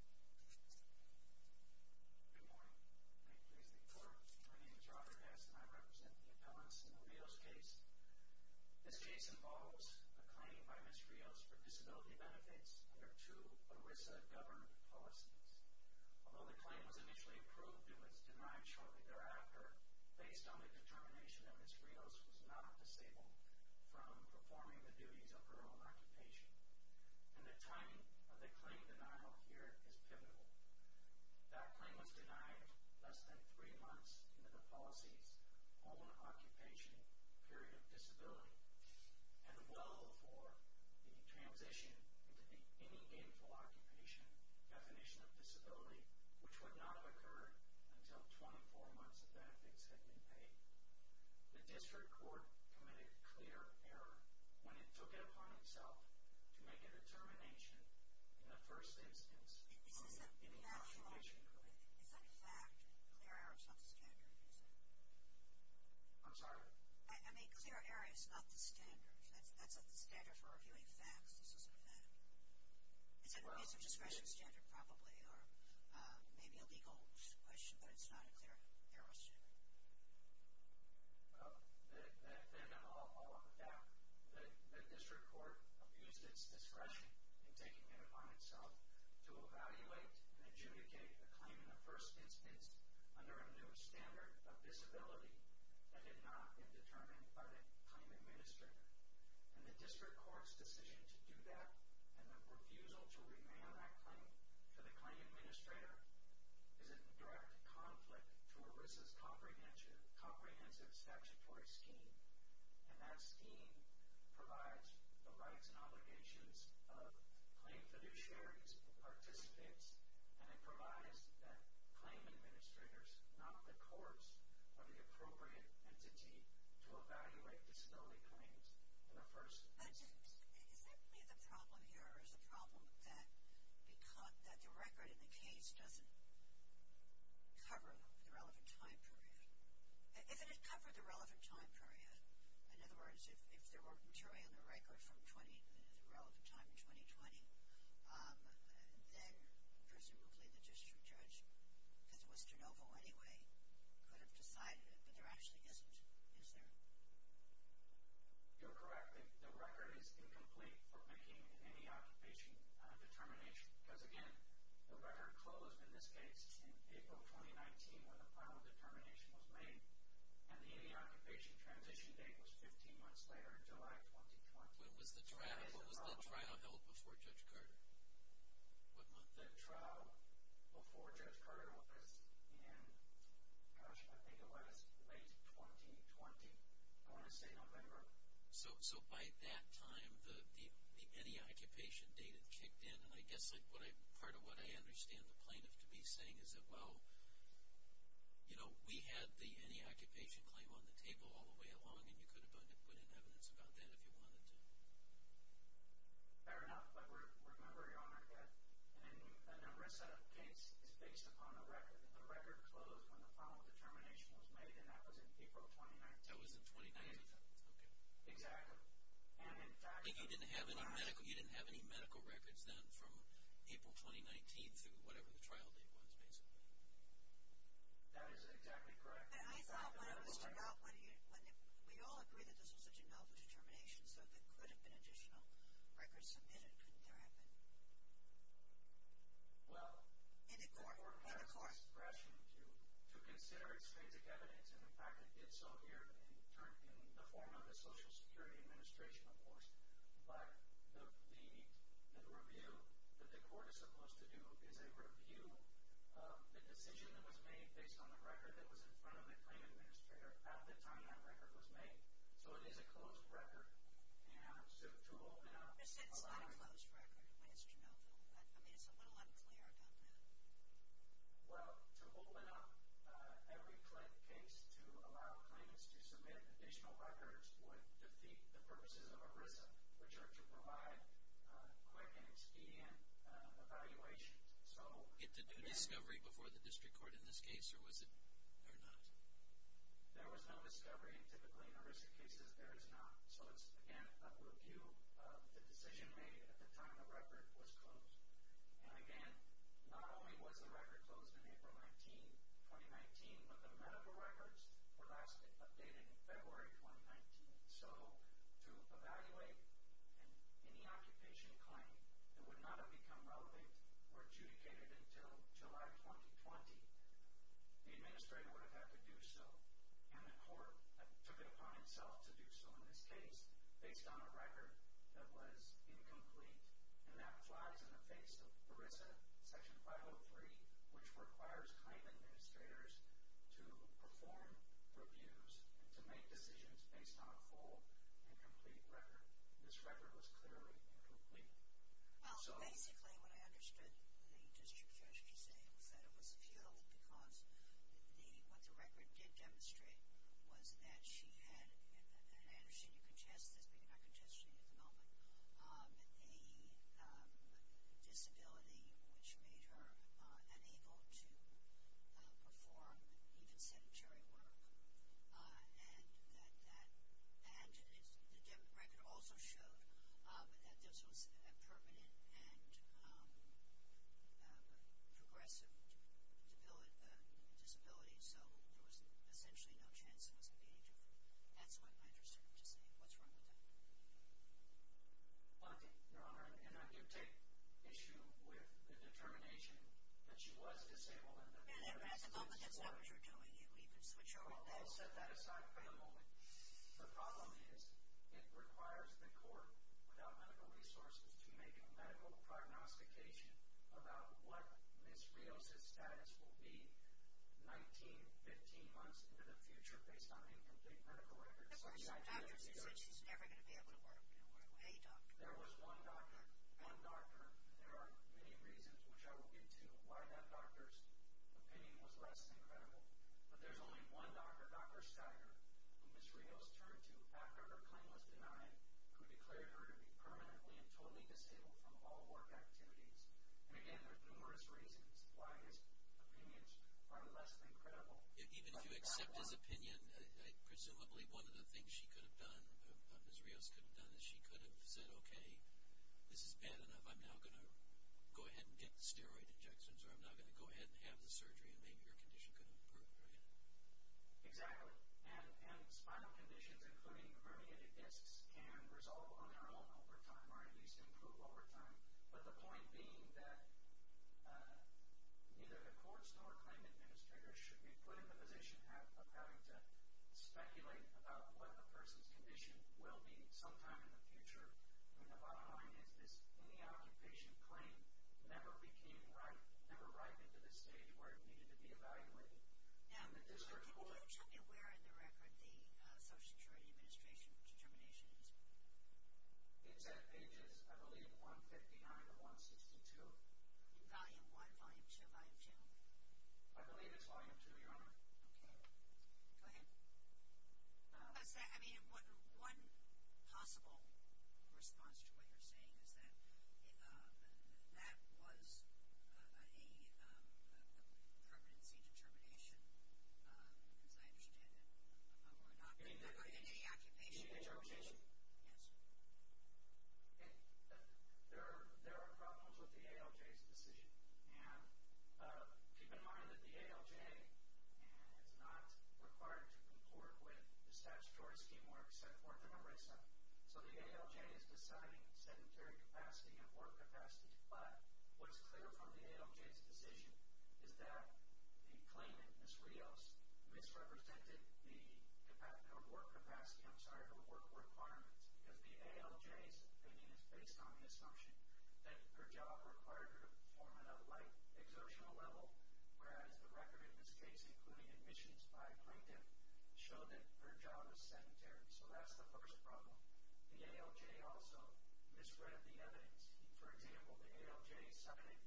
Good morning. My name is Robert Hess and I represent the appellants in the Rios case. This case involves a claim by Ms. Rios for disability benefits under two ERISA governed policies. Although the claim was initially approved, it was denied shortly thereafter, based on the determination that Ms. Rios was not disabled from performing the duties of her own occupation. And the timing of the claim denial here is pivotal. That claim was denied less than three months into the policy's own occupation period of disability, and well before the transition into the any gainful occupation definition of disability, which would not have occurred until 24 months of benefits had been paid. The district court committed clear error when it took it upon itself to make a determination in the first instance of any occupation period. Is that a fact? Clear error is not the standard, is it? I'm sorry? I mean, clear error is not the standard. That's not the standard for reviewing facts. This is a fact. It's an abuse of discretion standard probably, or maybe a legal question, but it's not a clear error standard. Then I'll offer that. The district court abused its discretion in taking it upon itself to evaluate and adjudicate a claim in the first instance under a new standard of disability that had not been determined by the claim administrator. And the district court's decision to do that and the refusal to remand that claim to the claim administrator is a direct conflict to ERISA's comprehensive statutory scheme. And that scheme provides the rights and obligations of claim fiduciaries, participants, and it provides that claim administrators, not the courts, are the appropriate entity to evaluate disability claims in a first instance. Is that really the problem here, or is the problem that the record in the case doesn't cover the relevant time period? If it did cover the relevant time period, in other words, if there were material in the record from the relevant time in 2020, then presumably the district judge, because it was de novo anyway, could have decided it. But there actually isn't, is there? You're correct. The record is incomplete for making any occupation determination. Because again, the record closed in this case in April 2019 when the final determination was made, and the any occupation transition date was 15 months later in July 2020. When was the trial held before Judge Carter? What month? The trial before Judge Carter was in, gosh, I think it was late 2020. I want to say November. So by that time, the any occupation date had kicked in, and I guess part of what I understand the plaintiff to be saying is that, you know, we had the any occupation claim on the table all the way along, and you could have put in evidence about that if you wanted to. Fair enough, but remember, Your Honor, that an ERISA case is based upon a record, and the record closed when the final determination was made, and that was in April 2019. That was in 2019. Exactly. And you didn't have any medical records then from April 2019 through whatever the trial date was, basically. That is exactly correct. But I thought when it was denounced, we all agree that this was such a novel determination, so there could have been additional records submitted, couldn't there have been? In the court. The court has discretion to consider extrinsic evidence, and in fact it did so here in the form of the Social Security Administration, of course, but the review that the court is supposed to do is a review of the decision that was made based on the record that was in front of the claim administrator at the time that record was made. So it is a closed record, and so to open up a lot of- Well, to open up every case to allow claimants to submit additional records would defeat the purposes of ERISA, which are to provide quick and expedient evaluations. So- Did you get to do discovery before the district court in this case, or was it not? There was no discovery, and typically in ERISA cases, there is not. So it's, again, a review of the decision made at the time the record was closed. And again, not only was the record closed in April 19, 2019, but the medical records were last updated in February 2019. So to evaluate any occupation claim that would not have become relevant or adjudicated until July 2020, the administrator would have had to do so, and the court took it upon itself to do so in this case, based on a record that was incomplete. And that flies in the face of ERISA Section 503, which requires claim administrators to perform reviews, to make decisions based on a full and complete record. This record was clearly incomplete. Well, basically what I understood the district judge to say was that it was futile because what the record did demonstrate was that she had, and I understand you congest this, but you're not congesting it at the moment, a disability which made her unable to perform even sedentary work. And the record also showed that this was a permanent and progressive disability, so there was essentially no chance it was a gauge of it. That's what I'm interested to see. What's wrong with that? Monty, Your Honor, and I do take issue with the determination that she was disabled. That's not what you're doing. You can switch over. I'll set that aside for a moment. The problem is it requires the court, without medical resources, to make a medical prognostication about what Ms. Rios' status will be 19, 15 months into the future, based on incomplete medical records. The doctor said she's never going to be able to work. There was one doctor. There are many reasons which I will get to why that doctor's opinion was less than credible, but there's only one doctor, Dr. Steiner, who Ms. Rios turned to after her claim was denied, who declared her to be permanently and totally disabled from all work activities. And, again, there are numerous reasons why his opinions are less than credible. Even if you accept his opinion, presumably one of the things she could have done, if Ms. Rios could have done this, she could have said, okay, this is bad enough, I'm now going to go ahead and get the steroid injections, or I'm now going to go ahead and have the surgery, and maybe your condition could have improved, right? Exactly. And spinal conditions, including herniated discs, can resolve on their own over time, or at least improve over time. But the point being that neither the courts nor claim administrators should be put in the position of having to speculate about what a person's condition will be sometime in the future, when the bottom line is this in-the-out in-patient claim never came right, never right into this stage where it needed to be evaluated. Now, can you tell me where in the record the Social Security Administration determination is? It's at pages, I believe, 159 to 162. Volume 1, volume 2, volume 2? I believe it's volume 2, Your Honor. Okay. Go ahead. I mean, one possible response to what you're saying is that that was a permanency determination, as I understand it, or an occupation determination. Interpretation? Yes. Okay. There are problems with the ALJ's decision. And keep in mind that the ALJ is not required to concord with the statutory schemework set forth in ARESA. So the ALJ is deciding sedentary capacity and work capacity. But what is clear from the ALJ's decision is that the claimant, Ms. Rios, misrepresented the capacity or work capacity, I'm sorry, or work requirements, because the ALJ's opinion is based on the assumption that her job required her to perform at a light exertional level, whereas the record in this case, including admissions by a plaintiff, showed that her job was sedentary. So that's the first problem. The ALJ also misread the evidence. For example, the ALJ cited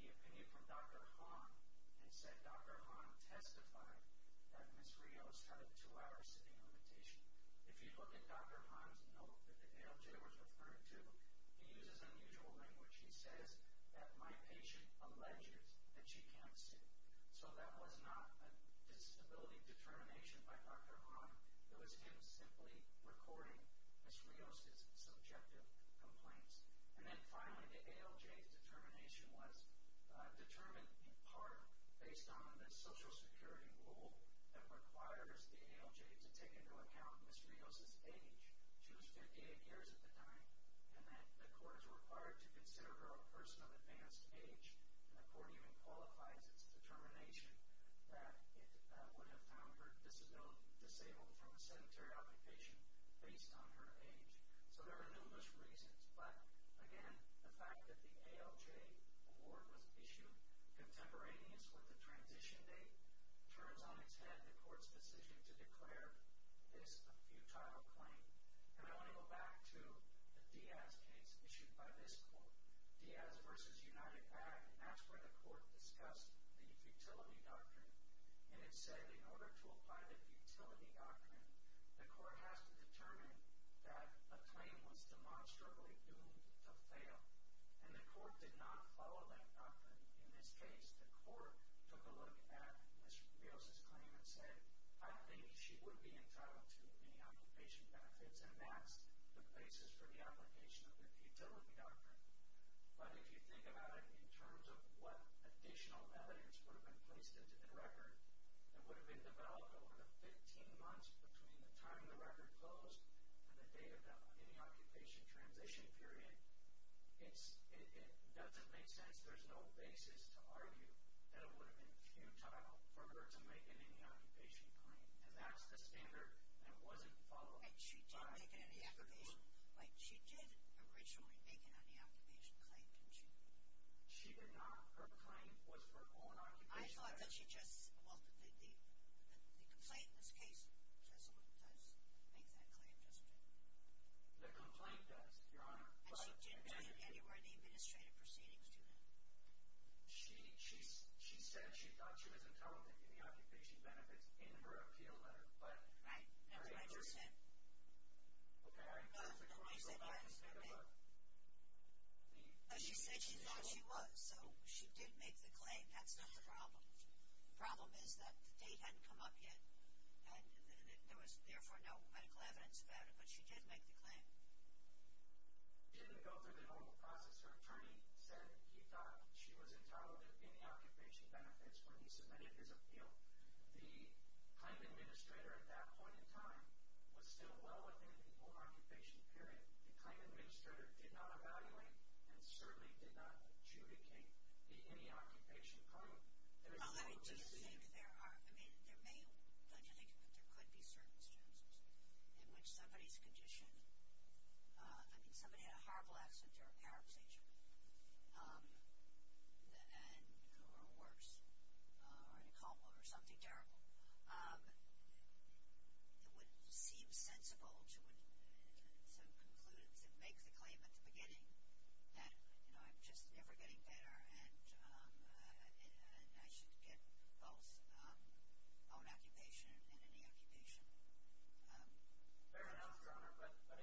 the opinion from Dr. Hahn and said Dr. Hahn testified that Ms. Rios had a two-hour sitting limitation. If you look at Dr. Hahn's note that the ALJ was referring to, he uses unusual language. He says that my patient alleges that she can't sit. So that was not a disability determination by Dr. Hahn. It was him simply recording Ms. Rios' subjective complaints. And then finally, the ALJ's determination was determined in part based on the Social Security rule that requires the ALJ to take into account Ms. Rios' age. She was 58 years at the time, and the court is required to consider her a person of advanced age, and the court even qualifies its determination that it would have found her disabled from a sedentary occupation based on her age. So there are numerous reasons. But again, the fact that the ALJ award was issued contemporaneous with the transition date turns on its head the court's decision to declare this a futile claim. And I want to go back to the Diaz case issued by this court. Diaz v. United Act, that's where the court discussed the futility doctrine, and it said in order to apply the futility doctrine, the court has to determine that a claim was demonstrably doomed to fail. And the court did not follow that doctrine. In this case, the court took a look at Ms. Rios' claim and said, I think she would be entitled to any occupation benefits, and that's the basis for the application of the futility doctrine. But if you think about it in terms of what additional evidence would have been placed into the record that would have been developed over the 15 months between the time the record closed and the date of the occupation transition period, it doesn't make sense. There's no basis to argue that it would have been futile for her to make an any occupation claim. And that's the standard that wasn't followed. But she did make an any occupation claim, didn't she? She did not. Her claim was for own occupation benefits. I thought that she just – well, the complaint in this case does make that claim, doesn't it? The complaint does, Your Honor. But she didn't do it anywhere in the administrative proceedings, did it? She said she thought she was entitled to any occupation benefits in her appeal letter. Right. That's what I just said. Okay. Are you comfortable with what I just said, Your Honor? No, she said she thought she was, so she did make the claim. That's not the problem. The problem is that the date hadn't come up yet, and there was, therefore, no medical evidence about it. But she did make the claim. She didn't go through the normal process. Her attorney said he thought she was entitled to any occupation benefits when he submitted his appeal. The claim administrator, at that point in time, was still well within the own occupation period. The claim administrator did not evaluate and certainly did not adjudicate any occupation claim. There is no reason to think there are – I mean, there may – don't you think there could be certain circumstances in which somebody's condition – I mean, somebody had a heart blast or a car accident or worse or something terrible. It would seem sensible to conclude and make the claim at the beginning that, you know, I'm just never getting better and I should get both own occupation and any occupation. Fair enough, Your Honor. But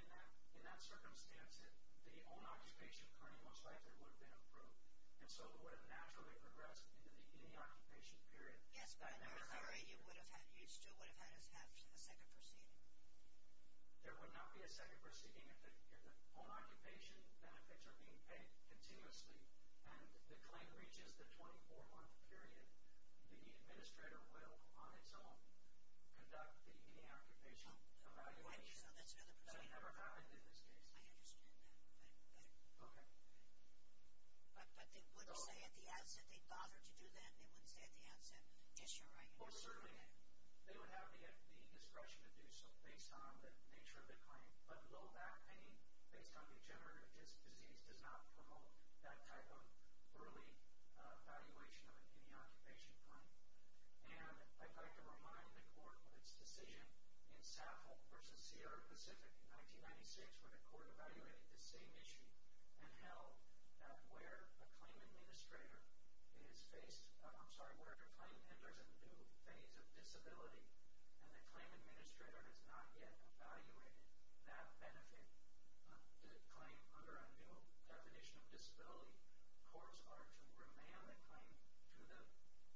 in that circumstance, the own occupation claim most likely would have been approved, and so it would have naturally progressed into the any occupation period. Yes, but I'm sorry. You still would have had us have a second proceeding. There would not be a second proceeding if the own occupation benefits are being paid continuously and the claim reaches the 24-month period. The administrator will, on its own, conduct the any occupation evaluation. So that's another proceeding. So it never happened in this case. I understand that better. Okay. But they wouldn't say at the outset they bothered to do that? They wouldn't say at the outset, yes, you're right. Well, certainly, they would have the discretion to do so based on the nature of the claim. But low back pain, based on degenerative disc disease, does not promote that type of early evaluation of an any occupation claim. And I'd like to remind the Court what its decision in Saffold v. Sierra Pacific in 1996, where the Court evaluated this same issue and held that where a claim administrator is faced, I'm sorry, where the claim enters a new phase of disability and the claim administrator has not yet evaluated that benefit, the claim under a new definition of disability, courts are to remand the claim to the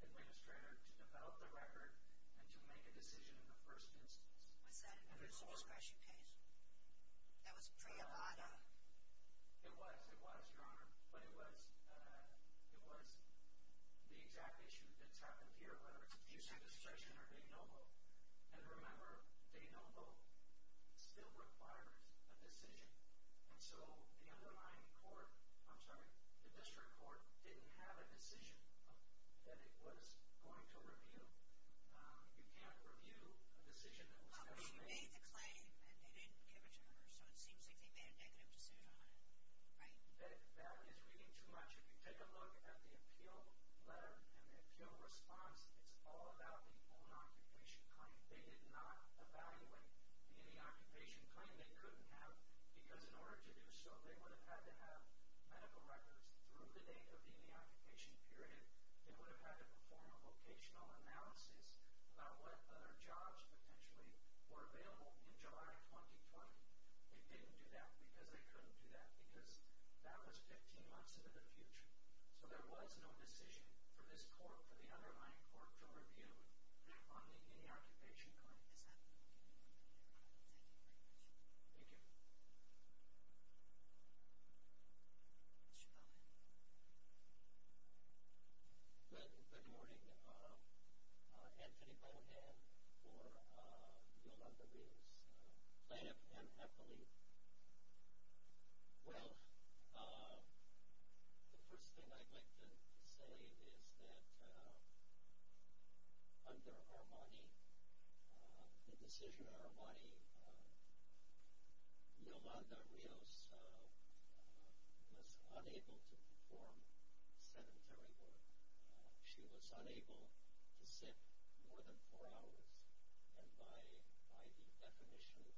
administrator to develop the record and to make a decision in the first instance. Was that Bruce's discretion case? That was pre-Avada? It was, it was, Your Honor. But it was the exact issue that's happened here, whether it's Bruce's discretion or De Novo. And remember, De Novo still requires a decision. And so the underlying court, I'm sorry, the district court, didn't have a decision that it was going to review. You can't review a decision that was not made. But they made the claim and they didn't give it to Congress, so it seems like they made a negative decision on it, right? That is reading too much. If you take a look at the appeal letter and the appeal response, it's all about the own occupation claim. They did not evaluate the any occupation claim. They couldn't have because in order to do so, they would have had to have medical records. Through the date of the any occupation period, they would have had to perform a vocational analysis about what other jobs potentially were available in July 2020. They didn't do that because they couldn't do that because that was 15 months into the future. So there was no decision for this court, for the underlying court, to review on the any occupation claim. Is that correct? Thank you very much. Thank you. Mr. Bowman. Good morning. Anthony Bowman for Yolanda Reeves. Plain and happily. Well, the first thing I'd like to say is that under Armani, the decision of Armani, Yolanda Reeves was unable to perform sedentary work. She was unable to sit more than four hours. And by the definition of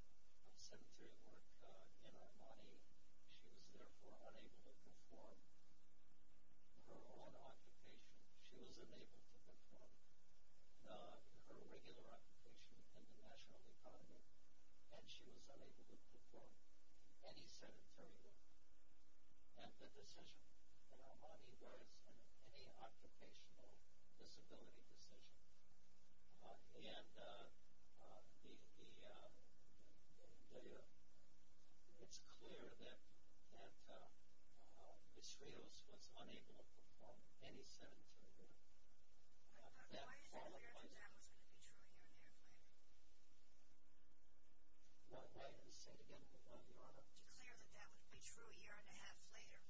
sedentary work in Armani, she was therefore unable to perform her own occupation. She was unable to perform her regular occupation in the national economy, and she was unable to perform any sedentary work. And the decision in Armani was an any occupational disability decision. And it's clear that Ms. Rios was unable to perform any sedentary work. Why is it clear that that was going to be true a year and a half later?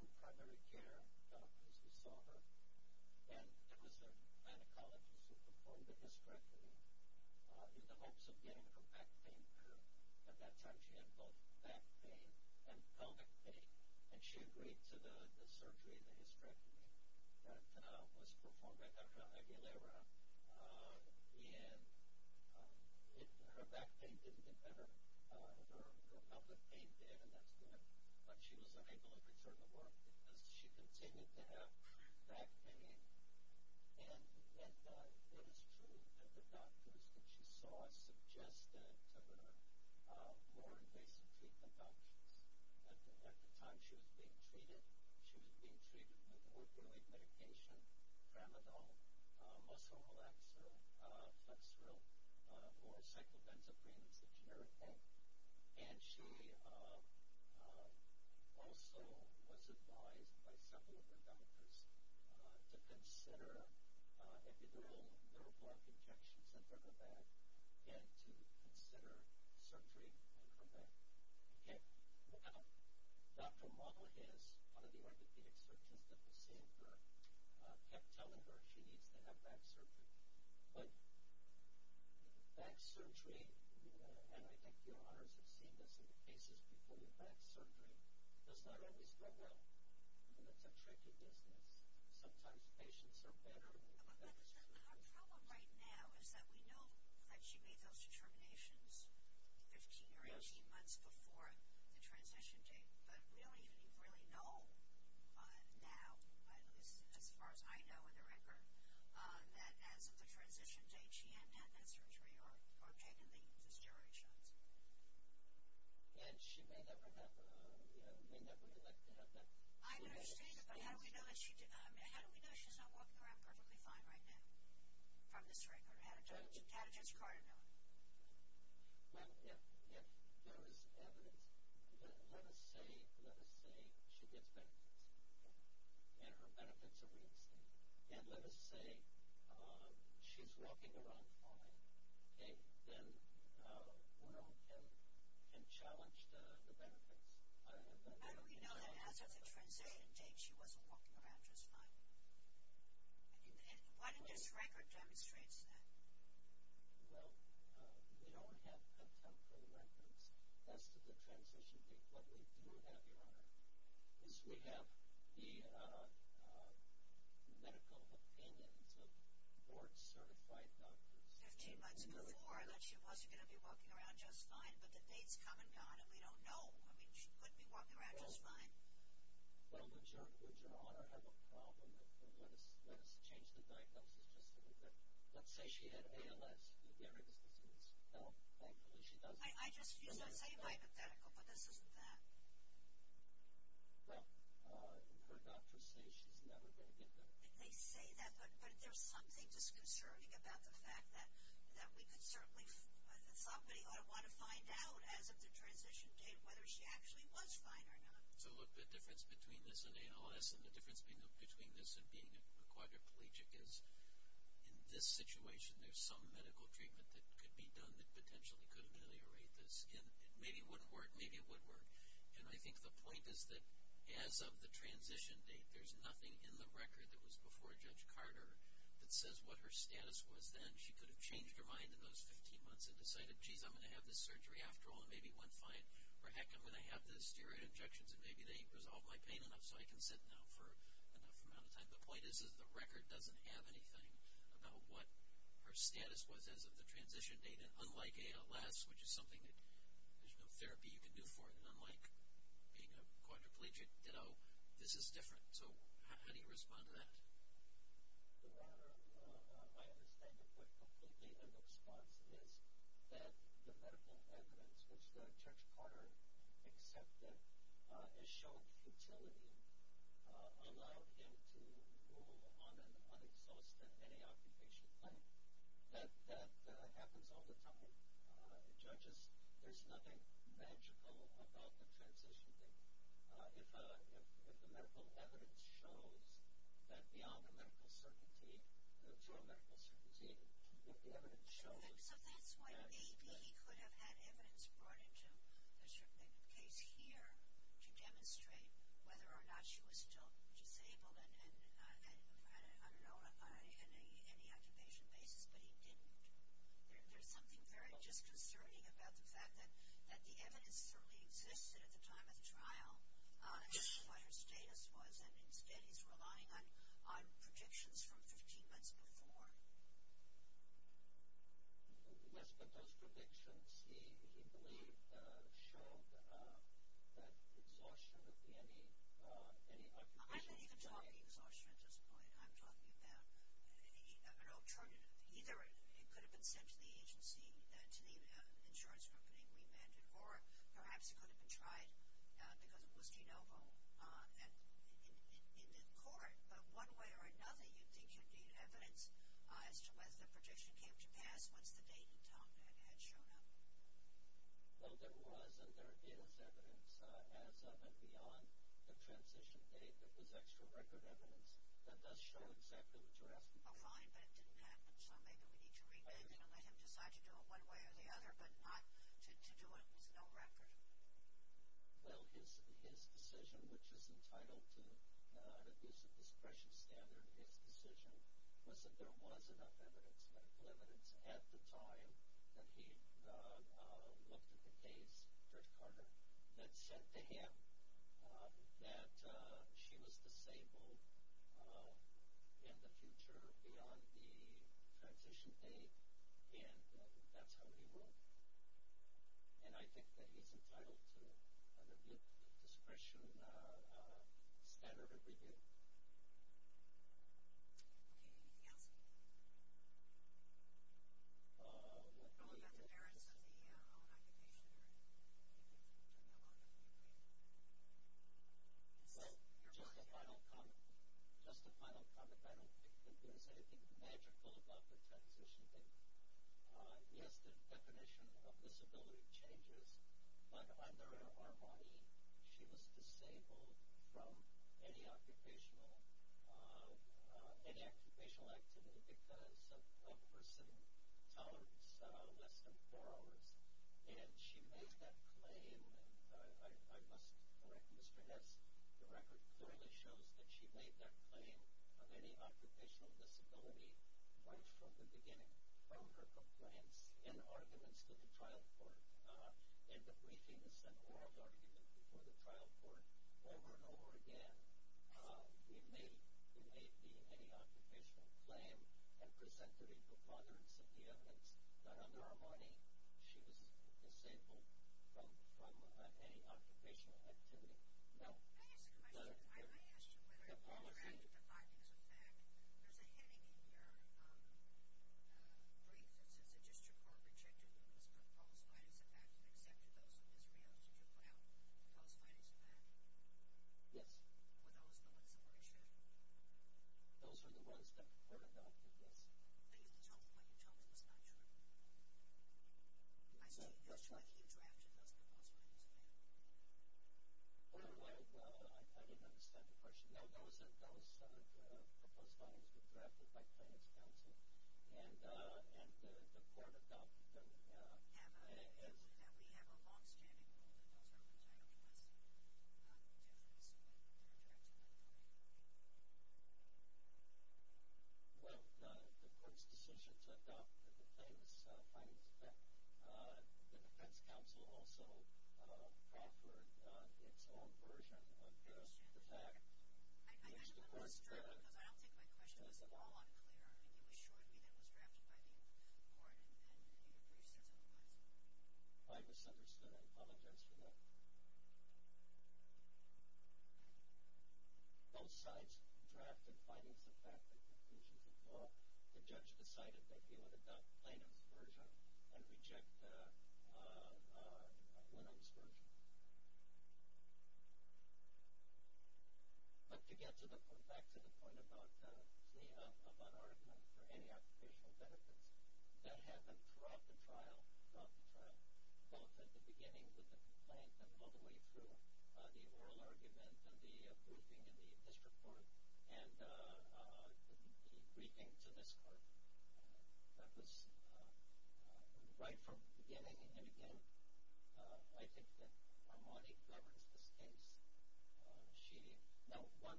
Say it again, Your Honor.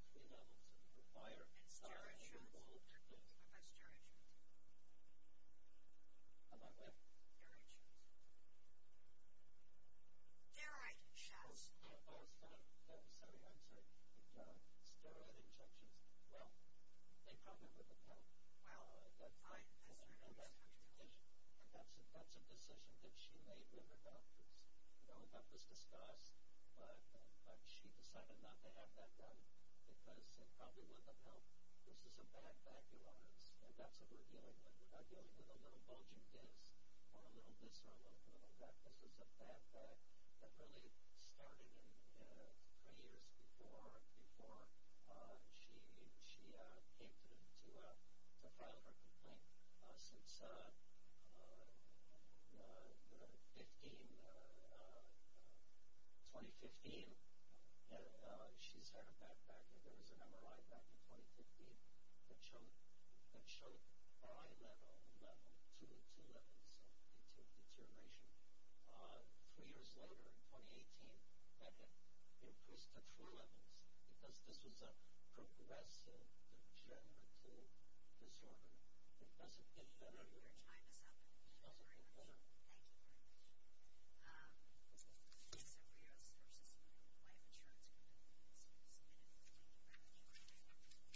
It's clear that that would be true a year and a half later. Well, that's what Dr. Simpson, Your Honor. Yes, but there are two things about that. One is that as Judge Canelli indicated, it appears that she was not getting steroid shots or surgery, and there doesn't seem to be a suggestion that that doesn't matter substantively. But it certainly is quite possible that after living with this for a while, she would just change her mind about the risk factor. So we don't know actually whether she ever ameliorated this condition, and the jury doesn't know that. And secondly, in just the projective determinations by doctors, you have some facility, but they're not the same. The title seems to be the same. So there's some difference as to evaluations of what's true at the time because they're notoriously inaccurate. People say that, you know, you're going to die of cancer in six months, and people live ten years. It's very difficult to rely on those things. So I'd say at least in my experience that it is particularly not true for her. So did Judge Carter do enough with regard to the analysis of the record in that regard? Did he do enough with I.E. that it was sufficiently predictably accurate that he should make a finding of fact that she was never going to get better? Did he make a finding of fact that she was never going to get better? By the way, were those findings of fact written by the plaintiff? Were Judge Carter's findings of fact written by the plaintiff? Are his findings of what? Written by the plaintiff. Were they written by the plaintiff? Who drafted them? The judge? The court did. Did the court write those? You didn't draft them? It looked like a party draft. I mean, I don't think it's been done anymore, but it did look like that. Okay, go ahead. No, the plaintiff had no other party drafting judgment. That was the court's judgment. But to get to your earlier point, Your Honor, doctors don't have a personal goal any more than the rest of us. Okay. Based on their experience, skill, and training, they can make medical judgments. This is a prognosis in their patient's case that to a medical certainty. It's not an absolute certainty. We all agree on that. But that's the best that we can do, medical certainty. Okay. And the doctors that examined her, there were eight health care providers. I'll just walk on. Mr. Hicks seems to imply that there were eight treating providers. There were two orthopedists who saw her. There was one pain specialist who saw her. There were two primary care doctors who saw her. And there was a gynecologist who performed a hysterectomy in the hopes of getting her back pain cured. At that time, she had both back pain and pelvic pain, and she agreed to the surgery and the hysterectomy that was performed by Dr. Aguilera. Her back pain didn't get better. Her pelvic pain did, and that's good. But she was unable to return to work because she continued to have back pain. And it is true that the doctors that she saw suggested to her more invasive treatment options. At the time, she was being treated with opioid medication, Dramadol, muscle relaxer, Flexeril, or cyclodenzaprine. It's a generic name. And she also was advised by several of the doctors to consider epidural nerve block injections in her back and to consider surgery on her back. Okay. Now, Dr. Malhaes, one of the orthopedic surgeons that was seeing her, kept telling her she needs to have back surgery. But back surgery, and I think your honors have seen this in the cases before you, back surgery does not always go well. And it's a tricky business. Sometimes patients are better. Our problem right now is that we know that she made those determinations 15 or 18 months before the transition date, but we don't even really know now, at least as far as I know in the record, that as of the transition date, she hadn't had that surgery or taken the gesturations. And she may never have, you know, may never have had that surgery. I understand that, but how do we know that she's not walking around perfectly fine right now, from this record? How does this record know? Well, if there is evidence, let us say she gets benefits, and her benefits are reinstated. And let us say she's walking around fine. Okay? Then we can challenge the benefits. How do we know that as of the transition date she wasn't walking around just fine? Why didn't this record demonstrate that? Well, we don't have contemporary records as to the transition date. What we do have, Your Honor, is we have the medical opinions of board-certified doctors. Fifteen months before that she wasn't going to be walking around just fine, but the date's coming on, and we don't know. I mean, she could be walking around just fine. Well, would Your Honor have a problem if we let us change the diagnosis just a little bit? Let's say she had ALS, the Guernsey Disease. Well, thankfully she doesn't. I just feel the same hypothetical, but this isn't that. Well, her doctors say she's never going to get that. They say that, but there's something disconcerting about the fact that we could certainly somebody ought to want to find out as of the transition date whether she actually was fine or not. So, look, the difference between this and ALS and the difference between this and being a quadriplegic is that in this situation there's some medical treatment that could be done that potentially could ameliorate this. Maybe it wouldn't work, maybe it would work. And I think the point is that as of the transition date there's nothing in the record that was before Judge Carter that says what her status was then. She could have changed her mind in those 15 months and decided, geez, I'm going to have this surgery after all and maybe it went fine, or heck, I'm going to have the steroid injections and maybe they resolve my pain enough so I can sit now for enough amount of time. The point is that the record doesn't have anything about what her status was as of the transition date. And unlike ALS, which is something that there's no therapy you can do for it, and unlike being a quadriplegic ditto, this is different. So how do you respond to that? I understand your point completely. And the response is that the medical evidence, which Judge Carter accepted, has shown futility, allowed him to move on and unexhausted any occupational pain. That happens all the time. Judges, there's nothing magical about the transition date. If the medical evidence shows that beyond a medical certainty, to a medical certainty, if the evidence shows that... to demonstrate whether or not she was still disabled and had, I don't know, any occupation basis, but he didn't. There's something very disconcerting about the fact that the evidence certainly exists that at the time of the trial, this is what her status was, and instead he's relying on predictions from 15 months before. Yes, but those predictions, he believed, showed that exhaustion would be any occupational pain. I'm not even talking exhaustion at this point. I'm talking about an alternative. Either it could have been sent to the agency, to the insurance company, remanded, or perhaps it could have been tried because it was Genovo. In court, one way or another, you'd think you'd need evidence as to whether the prediction came to pass once the date in town had shown up. Well, there was, and there is evidence as of and beyond the transition date that was extra record evidence that does show exactly what you're asking. Fine, but it didn't happen, so maybe we need to remand it and let him decide to do it one way or the other, but not to do it with no record. Well, his decision, which is entitled to an abuse of discretion standard, his decision was that there was enough evidence, medical evidence, at the time that he looked at the case, Judge Carter, that said to him that she was disabled in the future beyond the transition date, and that's how he wrote it. And I think that he's entitled to an abuse of discretion standard review. Okay, anything else? Oh, we've got the parents of the own occupation, right? Just a final comment. I don't think there's anything magical about the transition date. Yes, the definition of disability changes, but under Armani, she was disabled from any occupational activity because a person tolerates less than four hours. And she made that claim, and I must correct Mr. Hess, the record clearly shows that she made that claim of any occupational disability right from the beginning, from her complaints and arguments to the trial court, and the briefings and oral argument before the trial court, over and over again. We made the any occupational claim and presented it before others as the evidence that under Armani, she was disabled from any occupational activity. No. Can I ask a question? Sure. I asked you whether you interacted with the findings of FACT. There's a heading in your brief that says the district court rejected these proposed findings of FACT and accepted those of Ms. Rios to file proposed findings of FACT. Yes. Were those the ones that were accepted? Those were the ones that were adopted, yes. But you told me what you told me was not true. I said you'll try to keep drafting those proposed findings of FACT. Oh, well, I didn't understand the question. No, those proposed findings were drafted by claimants' counsel, and the court adopted them. And we have a longstanding rule that those are retired requests, potentially, so they're drafted by the court. Well, the court's decision to adopt the claimants' findings of FACT, the defense counsel also proffered its own version of FACT. I guess it was misdrawn because I don't think my question was at all unclear. I mean, you assured me that it was drafted by the court, and then your brief says otherwise. I misunderstood. I apologize for that. Both sides drafted findings of FACT, the conclusions of both. The judge decided that he would adopt the plaintiff's version and reject the woman's version. But to get back to the point about argument for any occupational benefits, that happened throughout the trial, throughout the trial, both at the beginning with the complaint and all the way through the oral argument and the briefing in the district court and the briefing to this court. That was right from the beginning. And, again, I think that Armani governs this case. Now, one last point, Your Honor, if I may. That is, the policy does not require that Ms. Rios operate to surgery or invasive procedures. Mr. Chairman, I have a question about that. Is there any possibility that she did? Well, you know, that's her decision. I'm saying it's her decision, but we don't know what the decision was, and neither did Judge Carter. She decided to pursue conservative treatment, which one of her orthopedists, Dr. Malkius, indicated that she should do. Now, Your Honor, there's a reason for that. This is a lady that had tri-level degenerative arthritis and dysphagenic disease, stenosis and radiculopathy. She had a bad back, and in order to go into surgery, that would require an extensive surgical procedure in the lumbar spine. It would require fusion of three levels, and it would require- And steroid shots? What about steroid shots? About what? Steroid shots. Steroid shots. Oh, sorry, I'm sorry. Steroid injections. Well, they come in with a pill. Wow. And that's her decision. And that's a decision that she made with her doctors. You know, that was discussed, but she decided not to have that done because it probably wouldn't have helped. This is a bad back, Your Honor, and that's what we're dealing with. We're not dealing with a little bulging disc or a little disc or a little back. This is a bad back that really started three years before she came to file her complaint. Since 2015, she's had a back back, and there was an MRI back in 2015 that showed eye level, level two, two levels of deterioration. Three years later, in 2018, that had increased to three levels because this was a progressive degenerative disorder. Progressive degenerative disorder. Your Honor, thank you very much. Thank you very much. So Rios v. White Insurance Company. It's been submitted. Thank you.